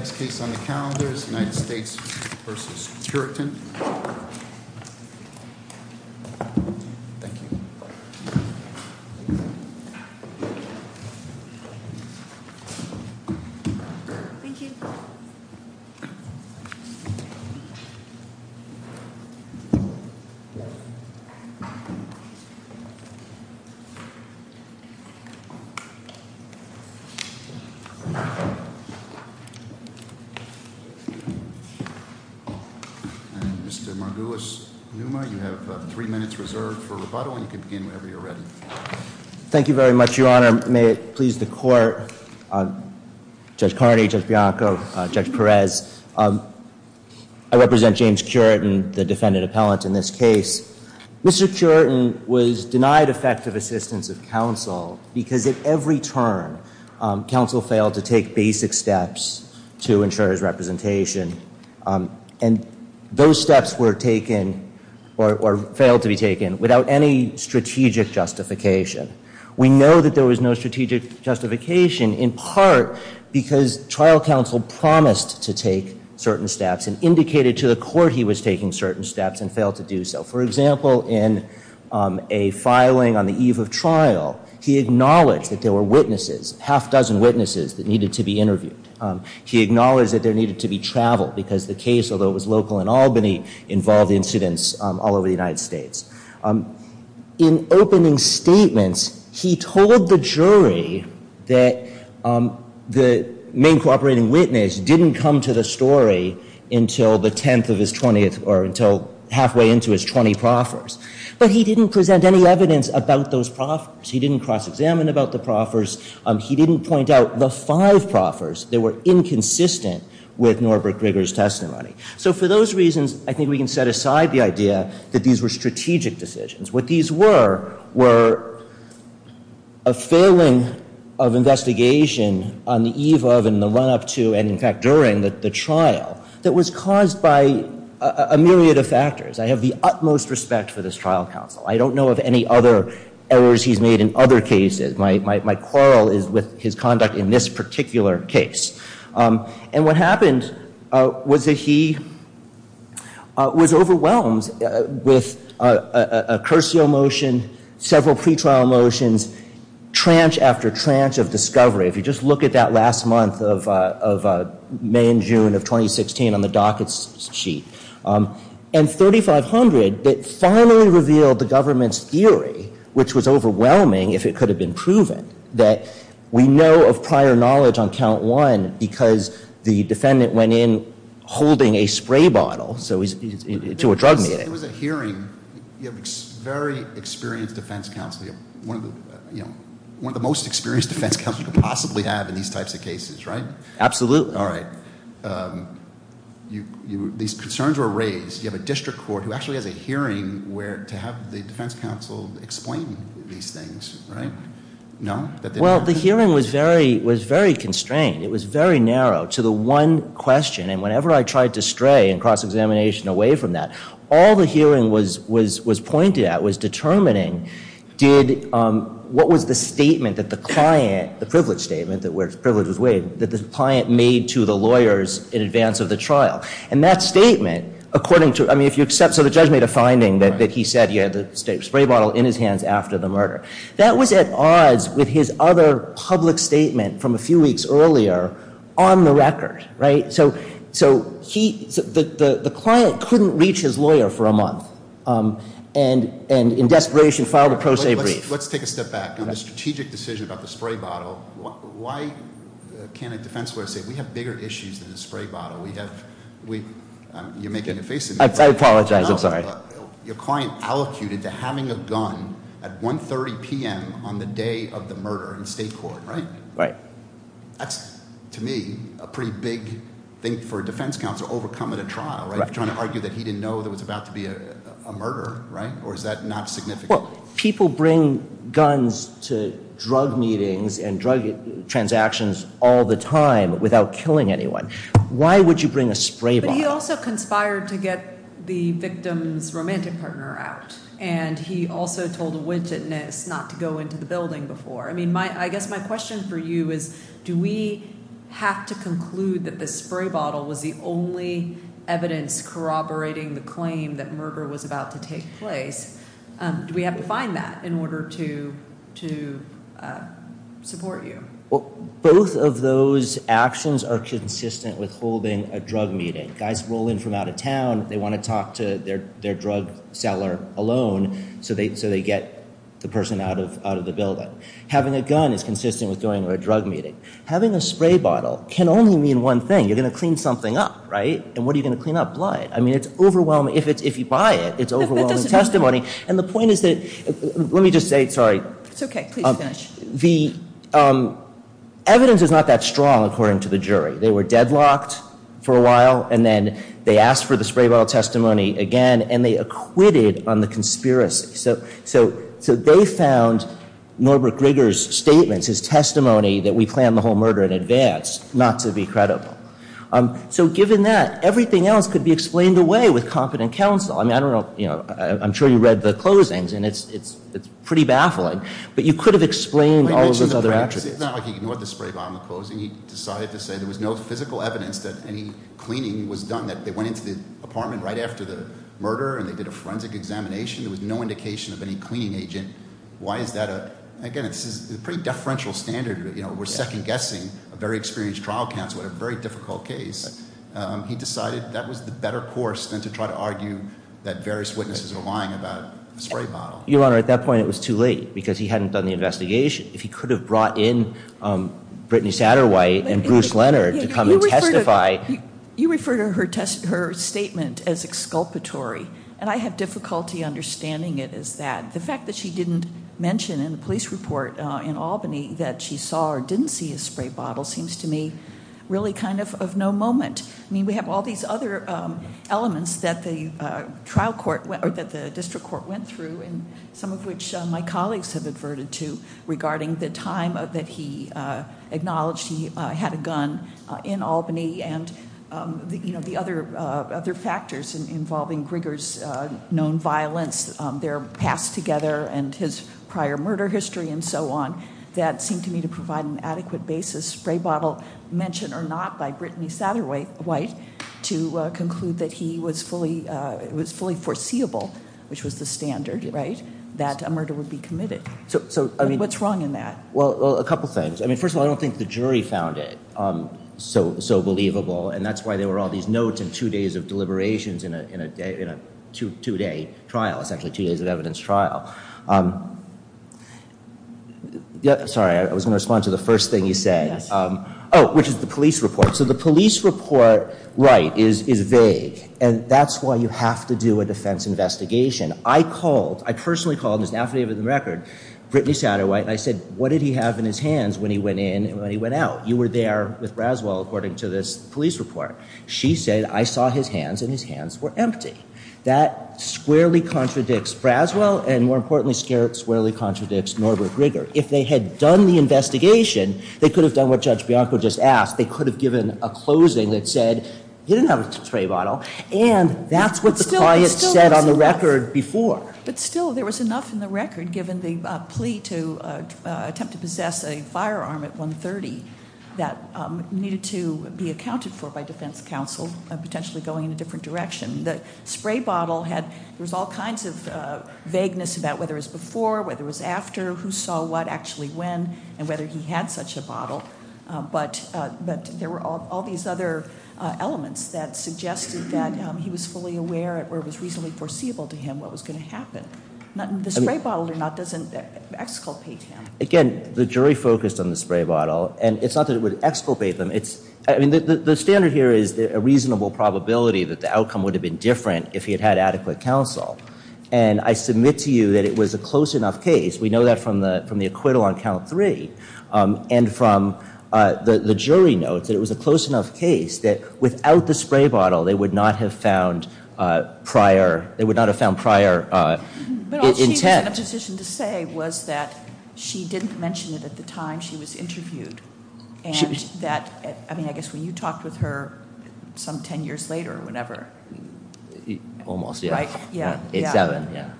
Next case on the calendar is United States v. Cureton Mr. Margulis-Numa, you have three minutes reserved for rebuttal, and you can begin whenever you're ready. Mr. Margulis-Numa Thank you very much, Your Honor. May it please the Court, Judge Carney, Judge Bianco, Judge Perez. I represent James Cureton, the defendant appellant in this case. Mr. Cureton was denied effective assistance of counsel because at every turn, counsel failed to take basic steps to ensure his representation, and those steps were taken or failed to be taken without any strategic justification. We know that there was no strategic justification in part because trial counsel promised to take certain steps and indicated to the court he was taking certain steps and failed to do so. For example, in a filing on the eve of trial, he acknowledged that there were witnesses, half-dozen witnesses, that needed to be interviewed. He acknowledged that there needed to be travel because the case, although it was local in Albany, involved incidents all over the United States. In opening statements, he told the jury that the main cooperating witness didn't come to the story until the 10th of his 20th or until halfway into his 20 proffers. But he didn't present any evidence about those proffers. He didn't cross-examine about the proffers. He didn't point out the five proffers that were inconsistent with Norbert Grieger's testimony. So for those reasons, I think we can set aside the idea that these were strategic decisions. What these were were a failing of investigation on the eve of and the run-up to and, in fact, during the trial that was caused by a myriad of factors. I have the utmost respect for this trial counsel. I don't know of any other errors he's made in other cases. My quarrel is with his conduct in this particular case. And what happened was that he was overwhelmed with a Curcio motion, several pretrial motions, tranche after tranche of discovery. If you just look at that last month of May and June of 2016 on the docket sheet. And 3500 that finally revealed the government's theory, which was overwhelming if it could have been proven, that we know of prior knowledge on count one because the defendant went in holding a spray bottle to a drug meeting. It was a hearing. You have a very experienced defense counsel. One of the most experienced defense counsel you could possibly have in these types of cases, right? Absolutely. All right. These concerns were raised. You have a district court who actually has a hearing to have the defense counsel explain these things, right? No. Well, the hearing was very constrained. It was very narrow to the one question. And whenever I tried to stray in cross-examination away from that, all the hearing was pointed at was determining what was the statement that the client, the privilege statement, that the client made to the lawyers in advance of the trial. And that statement, according to, I mean, if you accept, so the judge made a finding that he said he had the spray bottle in his hands after the murder. That was at odds with his other public statement from a few weeks earlier on the record, right? So he, the client couldn't reach his lawyer for a month and in desperation filed a pro se brief. Let's take a step back. On the strategic decision about the spray bottle, why can't a defense lawyer say we have bigger issues than the spray bottle? We have, you're making a face at me. I apologize. I'm sorry. Your client allocated to having a gun at 1.30 p.m. on the day of the murder in state court, right? Right. That's, to me, a pretty big thing for a defense counsel overcoming a trial, right? Trying to argue that he didn't know there was about to be a murder, right? Or is that not significant? Well, people bring guns to drug meetings and drug transactions all the time without killing anyone. Why would you bring a spray bottle? But he also conspired to get the victim's romantic partner out. And he also told a witness not to go into the building before. I mean, I guess my question for you is, do we have to conclude that the spray bottle was the only evidence corroborating the claim that murder was about to take place? Do we have to find that in order to support you? Both of those actions are consistent with holding a drug meeting. Guys roll in from out of town. They want to talk to their drug seller alone so they get the person out of the building. Having a gun is consistent with going to a drug meeting. Having a spray bottle can only mean one thing. You're going to clean something up, right? And what are you going to clean up? Blood. I mean, it's overwhelming. If you buy it, it's overwhelming testimony. And the point is that – let me just say – sorry. It's okay. Please finish. The evidence is not that strong, according to the jury. They were deadlocked for a while, and then they asked for the spray bottle testimony again, and they acquitted on the conspiracy. So they found Norbert Grieger's statements, his testimony that we planned the whole murder in advance, not to be credible. So given that, everything else could be explained away with competent counsel. I mean, I don't know. I'm sure you read the closings, and it's pretty baffling. But you could have explained all of those other attributes. It's not like he ignored the spray bottle in the closing. He decided to say there was no physical evidence that any cleaning was done. That they went into the apartment right after the murder, and they did a forensic examination. There was no indication of any cleaning agent. Why is that a – again, this is a pretty deferential standard. We're second-guessing a very experienced trial counsel in a very difficult case. He decided that was the better course than to try to argue that various witnesses are lying about the spray bottle. Your Honor, at that point it was too late because he hadn't done the investigation. If he could have brought in Brittany Satterwhite and Bruce Leonard to come and testify. You refer to her statement as exculpatory, and I have difficulty understanding it as that. The fact that she didn't mention in the police report in Albany that she saw or didn't see a spray bottle seems to me really kind of of no moment. I mean, we have all these other elements that the district court went through, and some of which my colleagues have adverted to regarding the time that he acknowledged he had a gun in Albany. And the other factors involving Grigger's known violence, their past together, and his prior murder history and so on. That seemed to me to provide an adequate basis. Spray bottle mentioned or not by Brittany Satterwhite to conclude that he was fully foreseeable, which was the standard, right, that a murder would be committed. So what's wrong in that? Well, a couple things. I mean, first of all, I don't think the jury found it so believable, and that's why there were all these notes and two days of deliberations in a two-day trial, essentially two days of evidence trial. Sorry, I was going to respond to the first thing you said. Oh, which is the police report. So the police report, right, is vague. And that's why you have to do a defense investigation. I called, I personally called, and this is an affidavit of the record, Brittany Satterwhite, and I said, what did he have in his hands when he went in and when he went out? You were there with Braswell, according to this police report. She said, I saw his hands, and his hands were empty. That squarely contradicts Braswell, and more importantly, squarely contradicts Norbert Grigger. If they had done the investigation, they could have done what Judge Bianco just asked. They could have given a closing that said, he didn't have a tray bottle, and that's what the client said on the record before. But still, there was enough in the record, given the plea to attempt to possess a firearm at 130, that needed to be accounted for by defense counsel, potentially going in a different direction. The spray bottle had, there was all kinds of vagueness about whether it was before, whether it was after, who saw what actually when, and whether he had such a bottle. But there were all these other elements that suggested that he was fully aware, or it was reasonably foreseeable to him what was going to happen. The spray bottle or not doesn't exculpate him. Again, the jury focused on the spray bottle, and it's not that it would exculpate them. The standard here is a reasonable probability that the outcome would have been different if he had adequate counsel. And I submit to you that it was a close enough case. We know that from the acquittal on count three, and from the jury notes, that it was a close enough case that without the spray bottle, they would not have found prior intent. But all she was in a position to say was that she didn't mention it at the time she was interviewed. And that, I mean, I guess when you talked with her some ten years later or whatever. Almost, yeah. Right? Yeah. Eight, seven, yeah.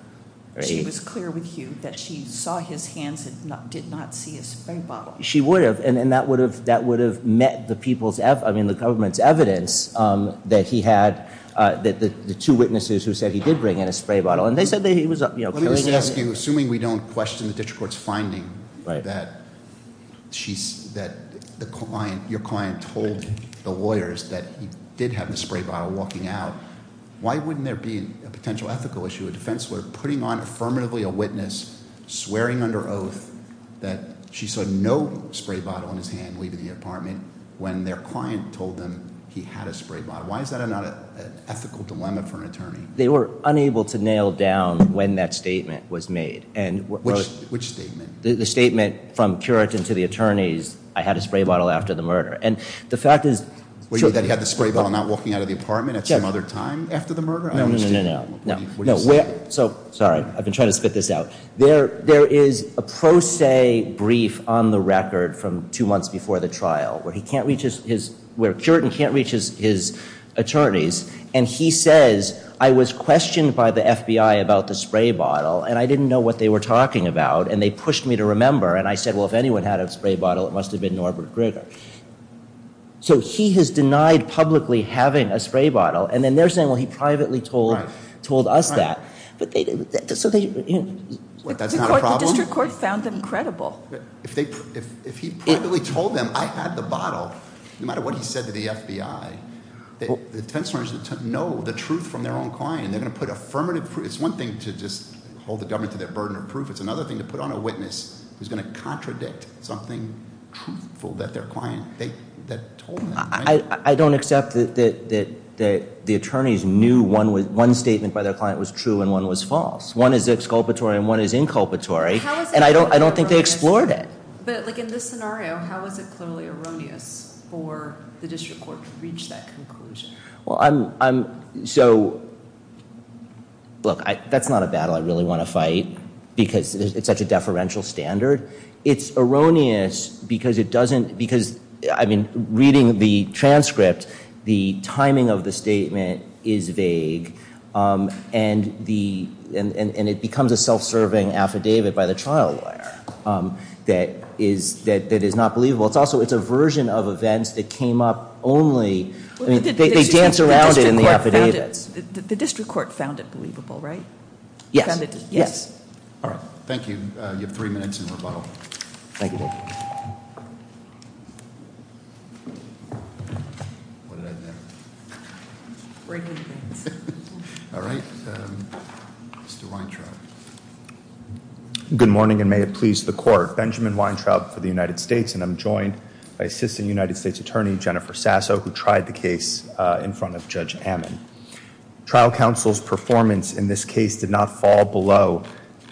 She was clear with you that she saw his hands and did not see a spray bottle. She would have. And that would have met the people's, I mean, the government's evidence that he had, the two witnesses who said he did bring in a spray bottle. And they said that he was carrying it. Let me just ask you, assuming we don't question the district court's finding that your client told the lawyers that he did have the spray bottle walking out, why wouldn't there be a potential ethical issue, a defense lawyer putting on affirmatively a witness, swearing under oath that she saw no spray bottle in his hand leaving the apartment when their client told them he had a spray bottle? Why is that not an ethical dilemma for an attorney? They were unable to nail down when that statement was made. Which statement? The statement from Curitin to the attorneys, I had a spray bottle after the murder. And the fact is. That he had the spray bottle not walking out of the apartment at some other time after the murder? No, no, no, no. What do you say? Sorry. I've been trying to spit this out. There is a pro se brief on the record from two months before the trial where Curitin can't reach his attorneys. And he says, I was questioned by the FBI about the spray bottle. And I didn't know what they were talking about. And they pushed me to remember. And I said, well, if anyone had a spray bottle, it must have been Norbert Grigger. So he has denied publicly having a spray bottle. And then they're saying, well, he privately told us that. That's not a problem? The district court found them credible. If he privately told them, I had the bottle. No matter what he said to the FBI. The tensors know the truth from their own client. They're going to put affirmative proof. It's one thing to just hold the government to their burden of proof. It's another thing to put on a witness who's going to contradict something truthful that their client told them. I don't accept that the attorneys knew one statement by their client was true and one was false. One is exculpatory and one is inculpatory. And I don't think they explored it. But in this scenario, how is it clearly erroneous for the district court to reach that conclusion? So look, that's not a battle I really want to fight. Because it's such a deferential standard. It's erroneous because it doesn't, because, I mean, reading the transcript, the timing of the statement is vague. And it becomes a self-serving affidavit by the trial lawyer that is not believable. It's also, it's a version of events that came up only, I mean, they dance around it in the affidavits. The district court found it believable, right? Yes. Yes. All right. Thank you. You have three minutes in rebuttal. Thank you. What did I do? Bring it in. All right. Mr. Weintraub. Good morning and may it please the court. Benjamin Weintraub for the United States. And I'm joined by Assistant United States Attorney Jennifer Sasso, who tried the case in front of Judge Ammon. Trial counsel's performance in this case did not fall below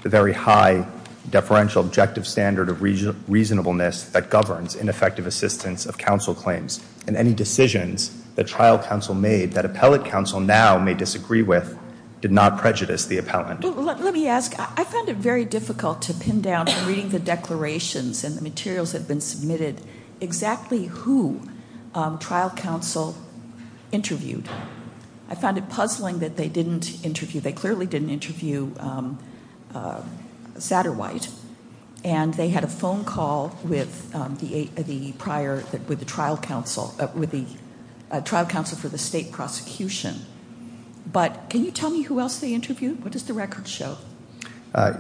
the very high deferential objective standard of reasonableness that governs ineffective assistance of counsel claims. And any decisions that trial counsel made that appellate counsel now may disagree with did not prejudice the appellant. Let me ask, I found it very difficult to pin down, reading the declarations and the materials that have been submitted, exactly who trial counsel interviewed. I found it puzzling that they didn't interview, they clearly didn't interview Satterwhite. And they had a phone call with the trial counsel for the state prosecution. What does the record show?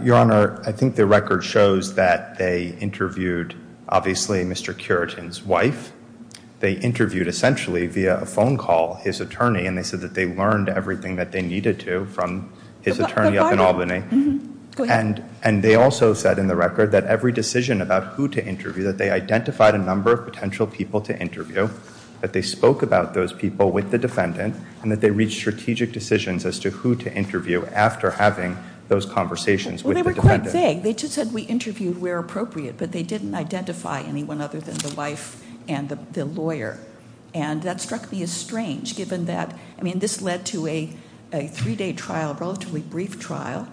Your Honor, I think the record shows that they interviewed, obviously, Mr. Curitin's wife. They interviewed, essentially, via a phone call, his attorney. And they said that they learned everything that they needed to from his attorney up in Albany. And they also said in the record that every decision about who to interview, that they identified a number of potential people to interview. That they spoke about those people with the defendant. And that they reached strategic decisions as to who to interview after having those conversations with the defendant. Well, they were quite vague. They just said we interviewed where appropriate. But they didn't identify anyone other than the wife and the lawyer. And that struck me as strange, given that, I mean, this led to a three-day trial, a relatively brief trial,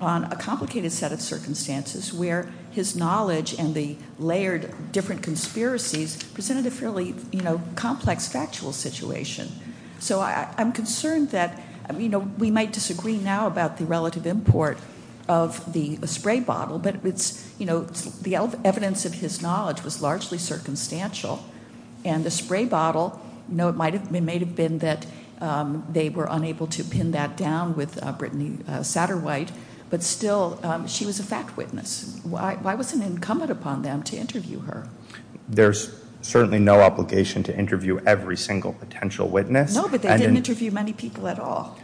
on a complicated set of circumstances where his knowledge and the layered different conspiracies presented a fairly complex factual situation. So I'm concerned that we might disagree now about the relative import of the spray bottle. But the evidence of his knowledge was largely circumstantial. And the spray bottle, it may have been that they were unable to pin that down with Brittany Satterwhite. But still, she was a fact witness. Why was it incumbent upon them to interview her? There's certainly no obligation to interview every single potential witness. No, but they didn't interview many people at all.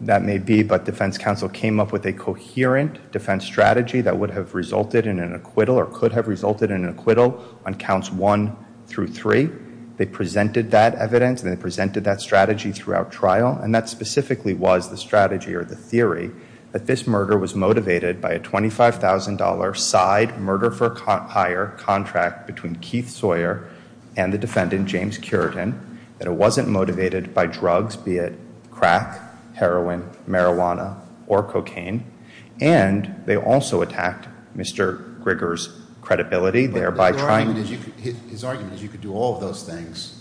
That may be. But defense counsel came up with a coherent defense strategy that would have resulted in an acquittal or could have resulted in an acquittal on counts one through three. They presented that evidence. And they presented that strategy throughout trial. And that specifically was the strategy or the theory that this murder was motivated by a $25,000 side, a murder for hire contract between Keith Sawyer and the defendant, James Curitan, that it wasn't motivated by drugs, be it crack, heroin, marijuana, or cocaine. And they also attacked Mr. Grigger's credibility, thereby trying to- But his argument is you could do all of those things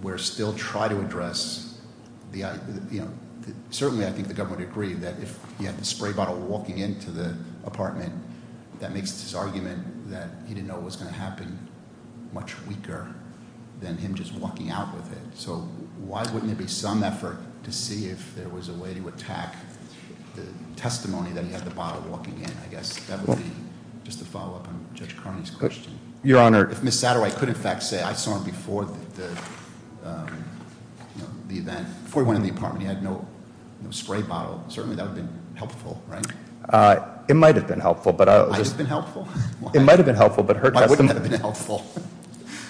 where still try to address the, you know, certainly I think the government agreed that if you had the spray bottle walking into the apartment, that makes his argument that he didn't know what was going to happen much weaker than him just walking out with it. So why wouldn't there be some effort to see if there was a way to attack the testimony that he had the bottle walking in? I guess that would be just a follow-up on Judge Carney's question. Your Honor- If Ms. Satterwhite could in fact say I saw him before the event, before he went in the apartment, he had no spray bottle, certainly that would have been helpful, right? It might have been helpful, but- Might have been helpful? It might have been helpful, but her testimony- Why wouldn't it have been helpful?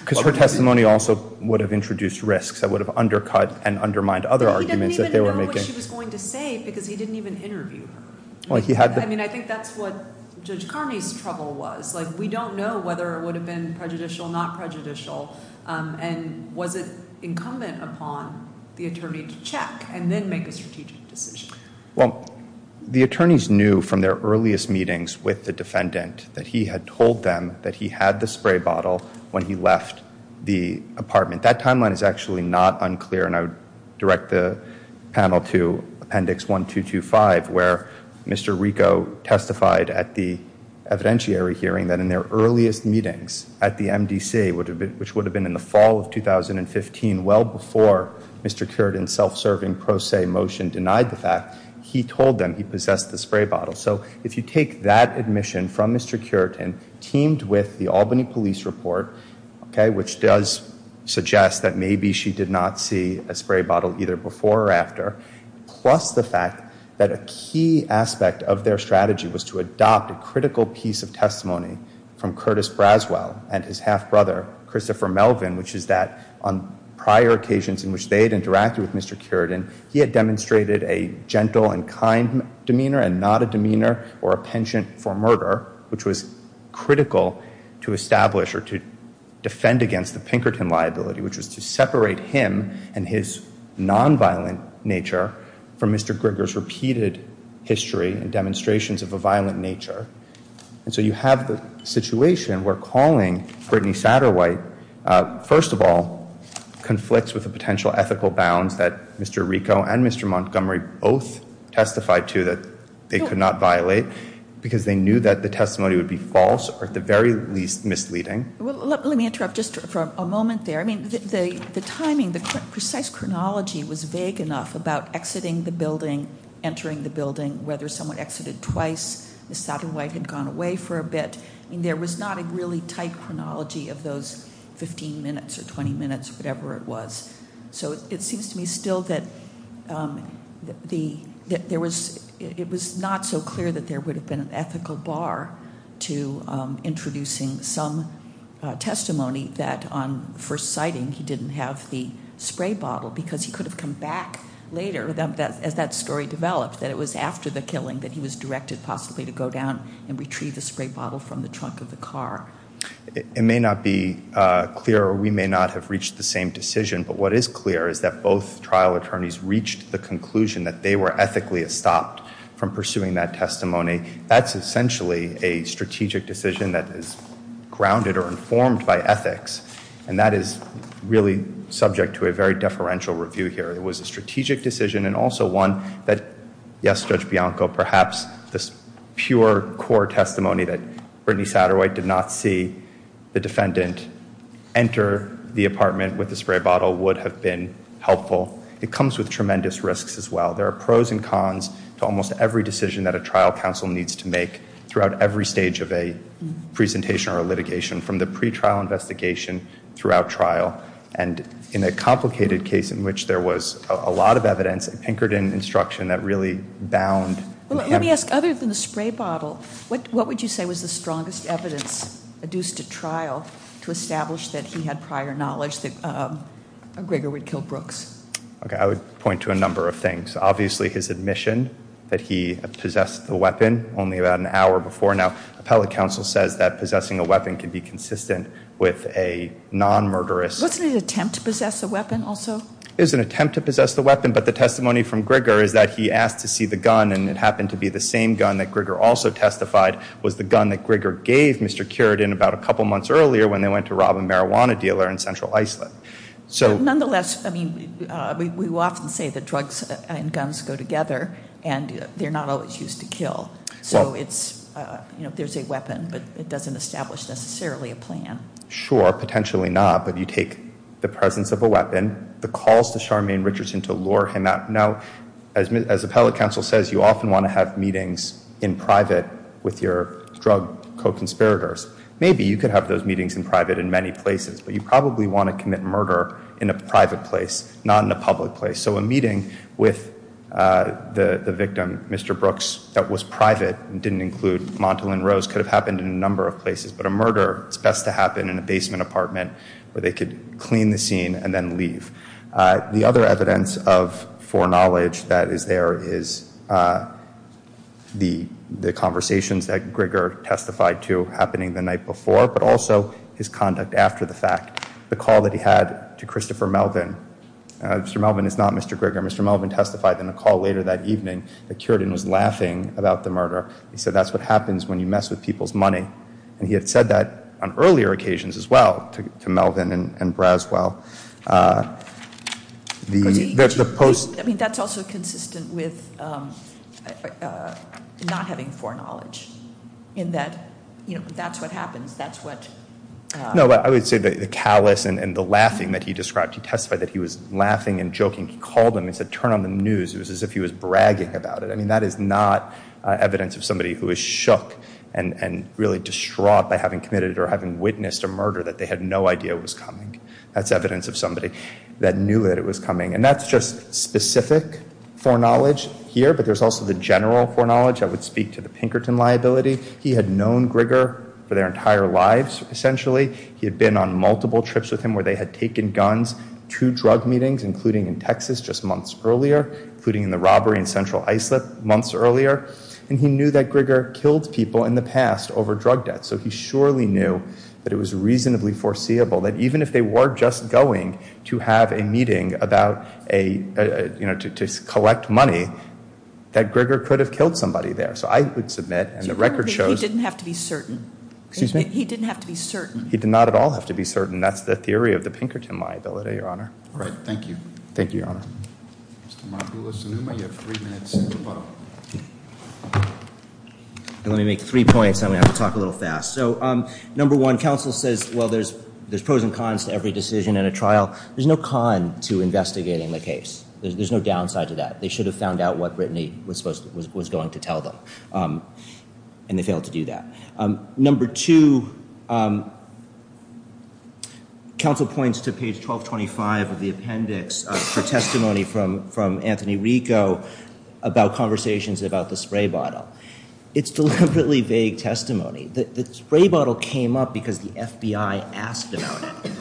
Because her testimony also would have introduced risks that would have undercut and undermined other arguments that they were making. But he didn't even know what she was going to say because he didn't even interview her. Well, he had- I mean, I think that's what Judge Carney's trouble was. Like, we don't know whether it would have been prejudicial, not prejudicial, and was it incumbent upon the attorney to check and then make a strategic decision? Well, the attorneys knew from their earliest meetings with the defendant that he had told them that he had the spray bottle when he left the apartment. That timeline is actually not unclear, and I would direct the panel to Appendix 1225, where Mr. Rico testified at the evidentiary hearing that in their earliest meetings at the MDC, which would have been in the fall of 2015, well before Mr. Curitin's self-serving pro se motion denied the fact, he told them he possessed the spray bottle. So if you take that admission from Mr. Curitin, teamed with the Albany Police Report, which does suggest that maybe she did not see a spray bottle either before or after, plus the fact that a key aspect of their strategy was to adopt a critical piece of testimony from Curtis Braswell and his half-brother Christopher Melvin, which is that on prior occasions in which they had interacted with Mr. Curitin, he had demonstrated a gentle and kind demeanor and not a demeanor or a penchant for murder, which was critical to establish or to defend against the Pinkerton liability, which was to separate him and his nonviolent nature from Mr. Grigger's repeated history and demonstrations of a violent nature. And so you have the situation where calling Brittany Satterwhite, first of all, conflicts with a potential ethical bounds that Mr. Rico and Mr. Montgomery both testified to that they could not violate because they knew that the testimony would be false or at the very least misleading. Let me interrupt just for a moment there. I mean, the timing, the precise chronology was vague enough about exiting the building, entering the building, whether someone exited twice, Ms. Satterwhite had gone away for a bit. I mean, there was not a really tight chronology of those 15 minutes or 20 minutes, whatever it was. So it seems to me still that it was not so clear that there would have been an ethical bar to introducing some testimony that on first sighting he didn't have the spray bottle because he could have come back later as that story developed, that it was after the killing that he was directed possibly to go down and retrieve the spray bottle from the trunk of the car. It may not be clear or we may not have reached the same decision, but what is clear is that both trial attorneys reached the conclusion that they were ethically stopped from pursuing that testimony. That's essentially a strategic decision that is grounded or informed by ethics, and that is really subject to a very deferential review here. It was a strategic decision and also one that, yes, Judge Bianco, perhaps this pure core testimony that Brittany Satterwhite did not see the defendant enter the apartment with the spray bottle would have been helpful. It comes with tremendous risks as well. There are pros and cons to almost every decision that a trial counsel needs to make throughout every stage of a presentation or litigation from the pretrial investigation throughout trial. And in a complicated case in which there was a lot of evidence, Pinkerton instruction that really bound. Let me ask, other than the spray bottle, what would you say was the strongest evidence adduced to trial to establish that he had prior knowledge that Gregor would kill Brooks? I would point to a number of things. Obviously his admission that he possessed the weapon only about an hour before. Now, appellate counsel says that possessing a weapon can be consistent with a non-murderous. Wasn't it an attempt to possess a weapon also? It was an attempt to possess the weapon, but the testimony from Gregor is that he asked to see the gun, and it happened to be the same gun that Gregor also testified was the gun that Gregor gave Mr. Curitin about a couple months earlier when they went to rob a marijuana dealer in Central Iceland. Nonetheless, we often say that drugs and guns go together, and they're not always used to kill. So it's, you know, there's a weapon, but it doesn't establish necessarily a plan. Sure, potentially not, but you take the presence of a weapon, the calls to Charmaine Richardson to lure him out. Now, as appellate counsel says, you often want to have meetings in private with your drug co-conspirators. Maybe you could have those meetings in private in many places, but you probably want to commit murder in a private place, not in a public place. So a meeting with the victim, Mr. Brooks, that was private and didn't include Montalyn Rose could have happened in a number of places. But a murder, it's best to happen in a basement apartment where they could clean the scene and then leave. The other evidence of foreknowledge that is there is the conversations that Gregor testified to happening the night before, but also his conduct after the fact, the call that he had to Christopher Melvin. Mr. Melvin is not Mr. Gregor. Mr. Melvin testified in a call later that evening that Cureton was laughing about the murder. He said, that's what happens when you mess with people's money. And he had said that on earlier occasions as well to Melvin and Braswell. I mean, that's also consistent with not having foreknowledge in that, you know, that's what happens. No, but I would say the callous and the laughing that he described. He testified that he was laughing and joking. He called him and said, turn on the news. It was as if he was bragging about it. I mean, that is not evidence of somebody who is shook and really distraught by having committed or having witnessed a murder that they had no idea was coming. That's evidence of somebody that knew that it was coming. And that's just specific foreknowledge here, but there's also the general foreknowledge. I would speak to the Pinkerton liability. He had known Grigor for their entire lives, essentially. He had been on multiple trips with him where they had taken guns to drug meetings, including in Texas just months earlier, including in the robbery in Central Islip months earlier. And he knew that Grigor killed people in the past over drug debts. So he surely knew that it was reasonably foreseeable that even if they were just going to have a meeting about a, you know, to collect money, that Grigor could have killed somebody there. So I would submit, and the record shows- He didn't have to be certain. Excuse me? He didn't have to be certain. He did not at all have to be certain. That's the theory of the Pinkerton liability, Your Honor. All right. Thank you. Thank you, Your Honor. Mr. Mabula-Sanuma, you have three minutes to vote. Let me make three points and then we'll have to talk a little fast. So number one, counsel says, well, there's pros and cons to every decision in a trial. There's no con to investigating the case. There's no downside to that. They should have found out what Brittany was going to tell them, and they failed to do that. Number two, counsel points to page 1225 of the appendix for testimony from Anthony Rico about conversations about the spray bottle. It's deliberately vague testimony. The spray bottle came up because the FBI asked about it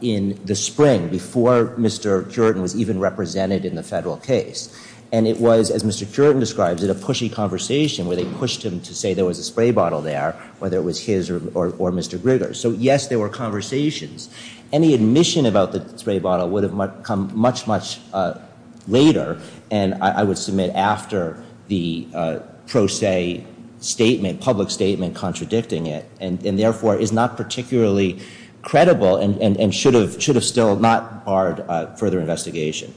in the spring before Mr. Curtin was even represented in the federal case. And it was, as Mr. Curtin describes it, a pushy conversation where they pushed him to say there was a spray bottle there, whether it was his or Mr. Grigger's. So, yes, there were conversations. Any admission about the spray bottle would have come much, much later, and I would submit after the pro se statement, public statement contradicting it, and therefore is not particularly credible and should have still not barred further investigation.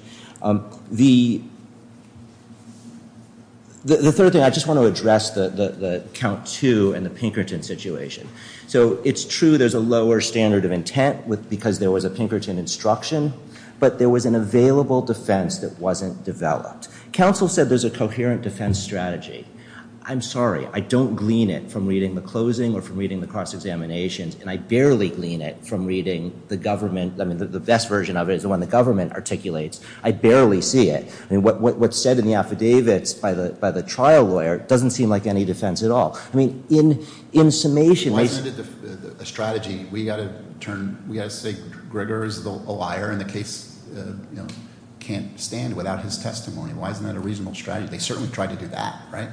The third thing, I just want to address the count two and the Pinkerton situation. So it's true there's a lower standard of intent because there was a Pinkerton instruction, but there was an available defense that wasn't developed. Counsel said there's a coherent defense strategy. I'm sorry. I don't glean it from reading the closing or from reading the cross examinations, and I barely glean it from reading the government. I mean, the best version of it is the one the government articulates. I barely see it. I mean, what's said in the affidavits by the trial lawyer doesn't seem like any defense at all. I mean, in summation. Why isn't it a strategy? We've got to say Grigger is a liar and the case can't stand without his testimony. Why isn't that a reasonable strategy? They certainly tried to do that, right?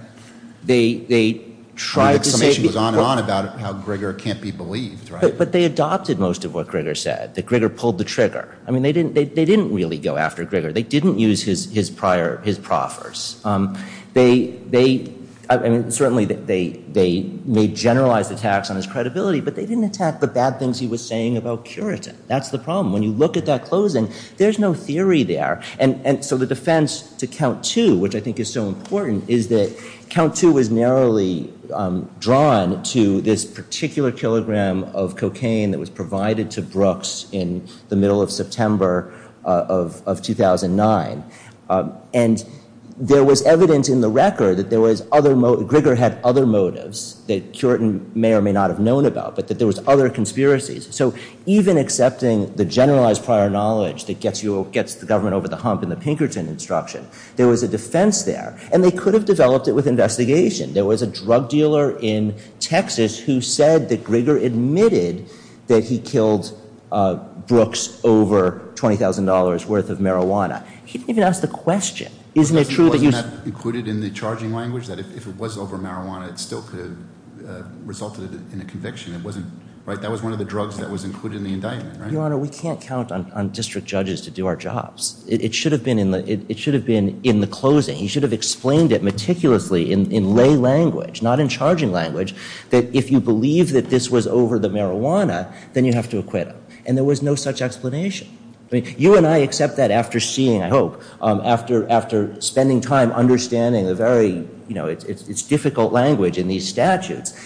They tried to say. The summation was on and on about how Grigger can't be believed, right? But they adopted most of what Grigger said, that Grigger pulled the trigger. I mean, they didn't really go after Grigger. They didn't use his proffers. They certainly made generalized attacks on his credibility, but they didn't attack the bad things he was saying about Curitin. That's the problem. When you look at that closing, there's no theory there. And so the defense to count two, which I think is so important, is that count two was narrowly drawn to this particular kilogram of cocaine that was provided to Brooks in the middle of September of 2009. And there was evidence in the record that Grigger had other motives that Curitin may or may not have known about, but that there was other conspiracies. So even accepting the generalized prior knowledge that gets the government over the hump in the Pinkerton instruction, there was a defense there. And they could have developed it with investigation. There was a drug dealer in Texas who said that Grigger admitted that he killed Brooks over $20,000 worth of marijuana. He didn't even ask the question. Isn't it true that he was- Wasn't that included in the charging language, that if it was over marijuana, it still could have resulted in a conviction? It wasn't, right? That was one of the drugs that was included in the indictment, right? Your Honor, we can't count on district judges to do our jobs. It should have been in the closing. He should have explained it meticulously in lay language, not in charging language, that if you believe that this was over the marijuana, then you have to acquit him. And there was no such explanation. I mean, you and I accept that after seeing, I hope, after spending time understanding the very, you know, it's difficult language in these statutes.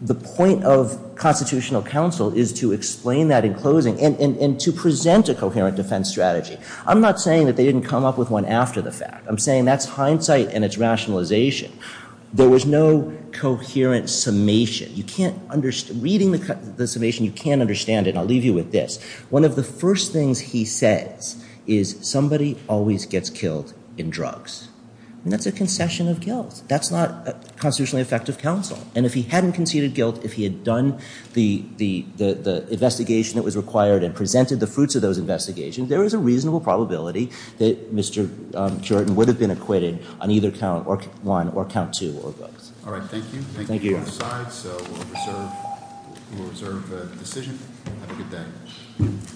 The point of constitutional counsel is to explain that in closing and to present a coherent defense strategy. I'm not saying that they didn't come up with one after the fact. I'm saying that's hindsight and it's rationalization. There was no coherent summation. You can't, reading the summation, you can't understand it. I'll leave you with this. One of the first things he says is somebody always gets killed in drugs. And that's a concession of guilt. That's not constitutionally effective counsel. And if he hadn't conceded guilt, if he had done the investigation that was required and presented the fruits of those investigations, there is a reasonable probability that Mr. Jordan would have been acquitted on either count one or count two of those. All right, thank you. Thank you. Thank you. We'll reserve the decision. Have a good day.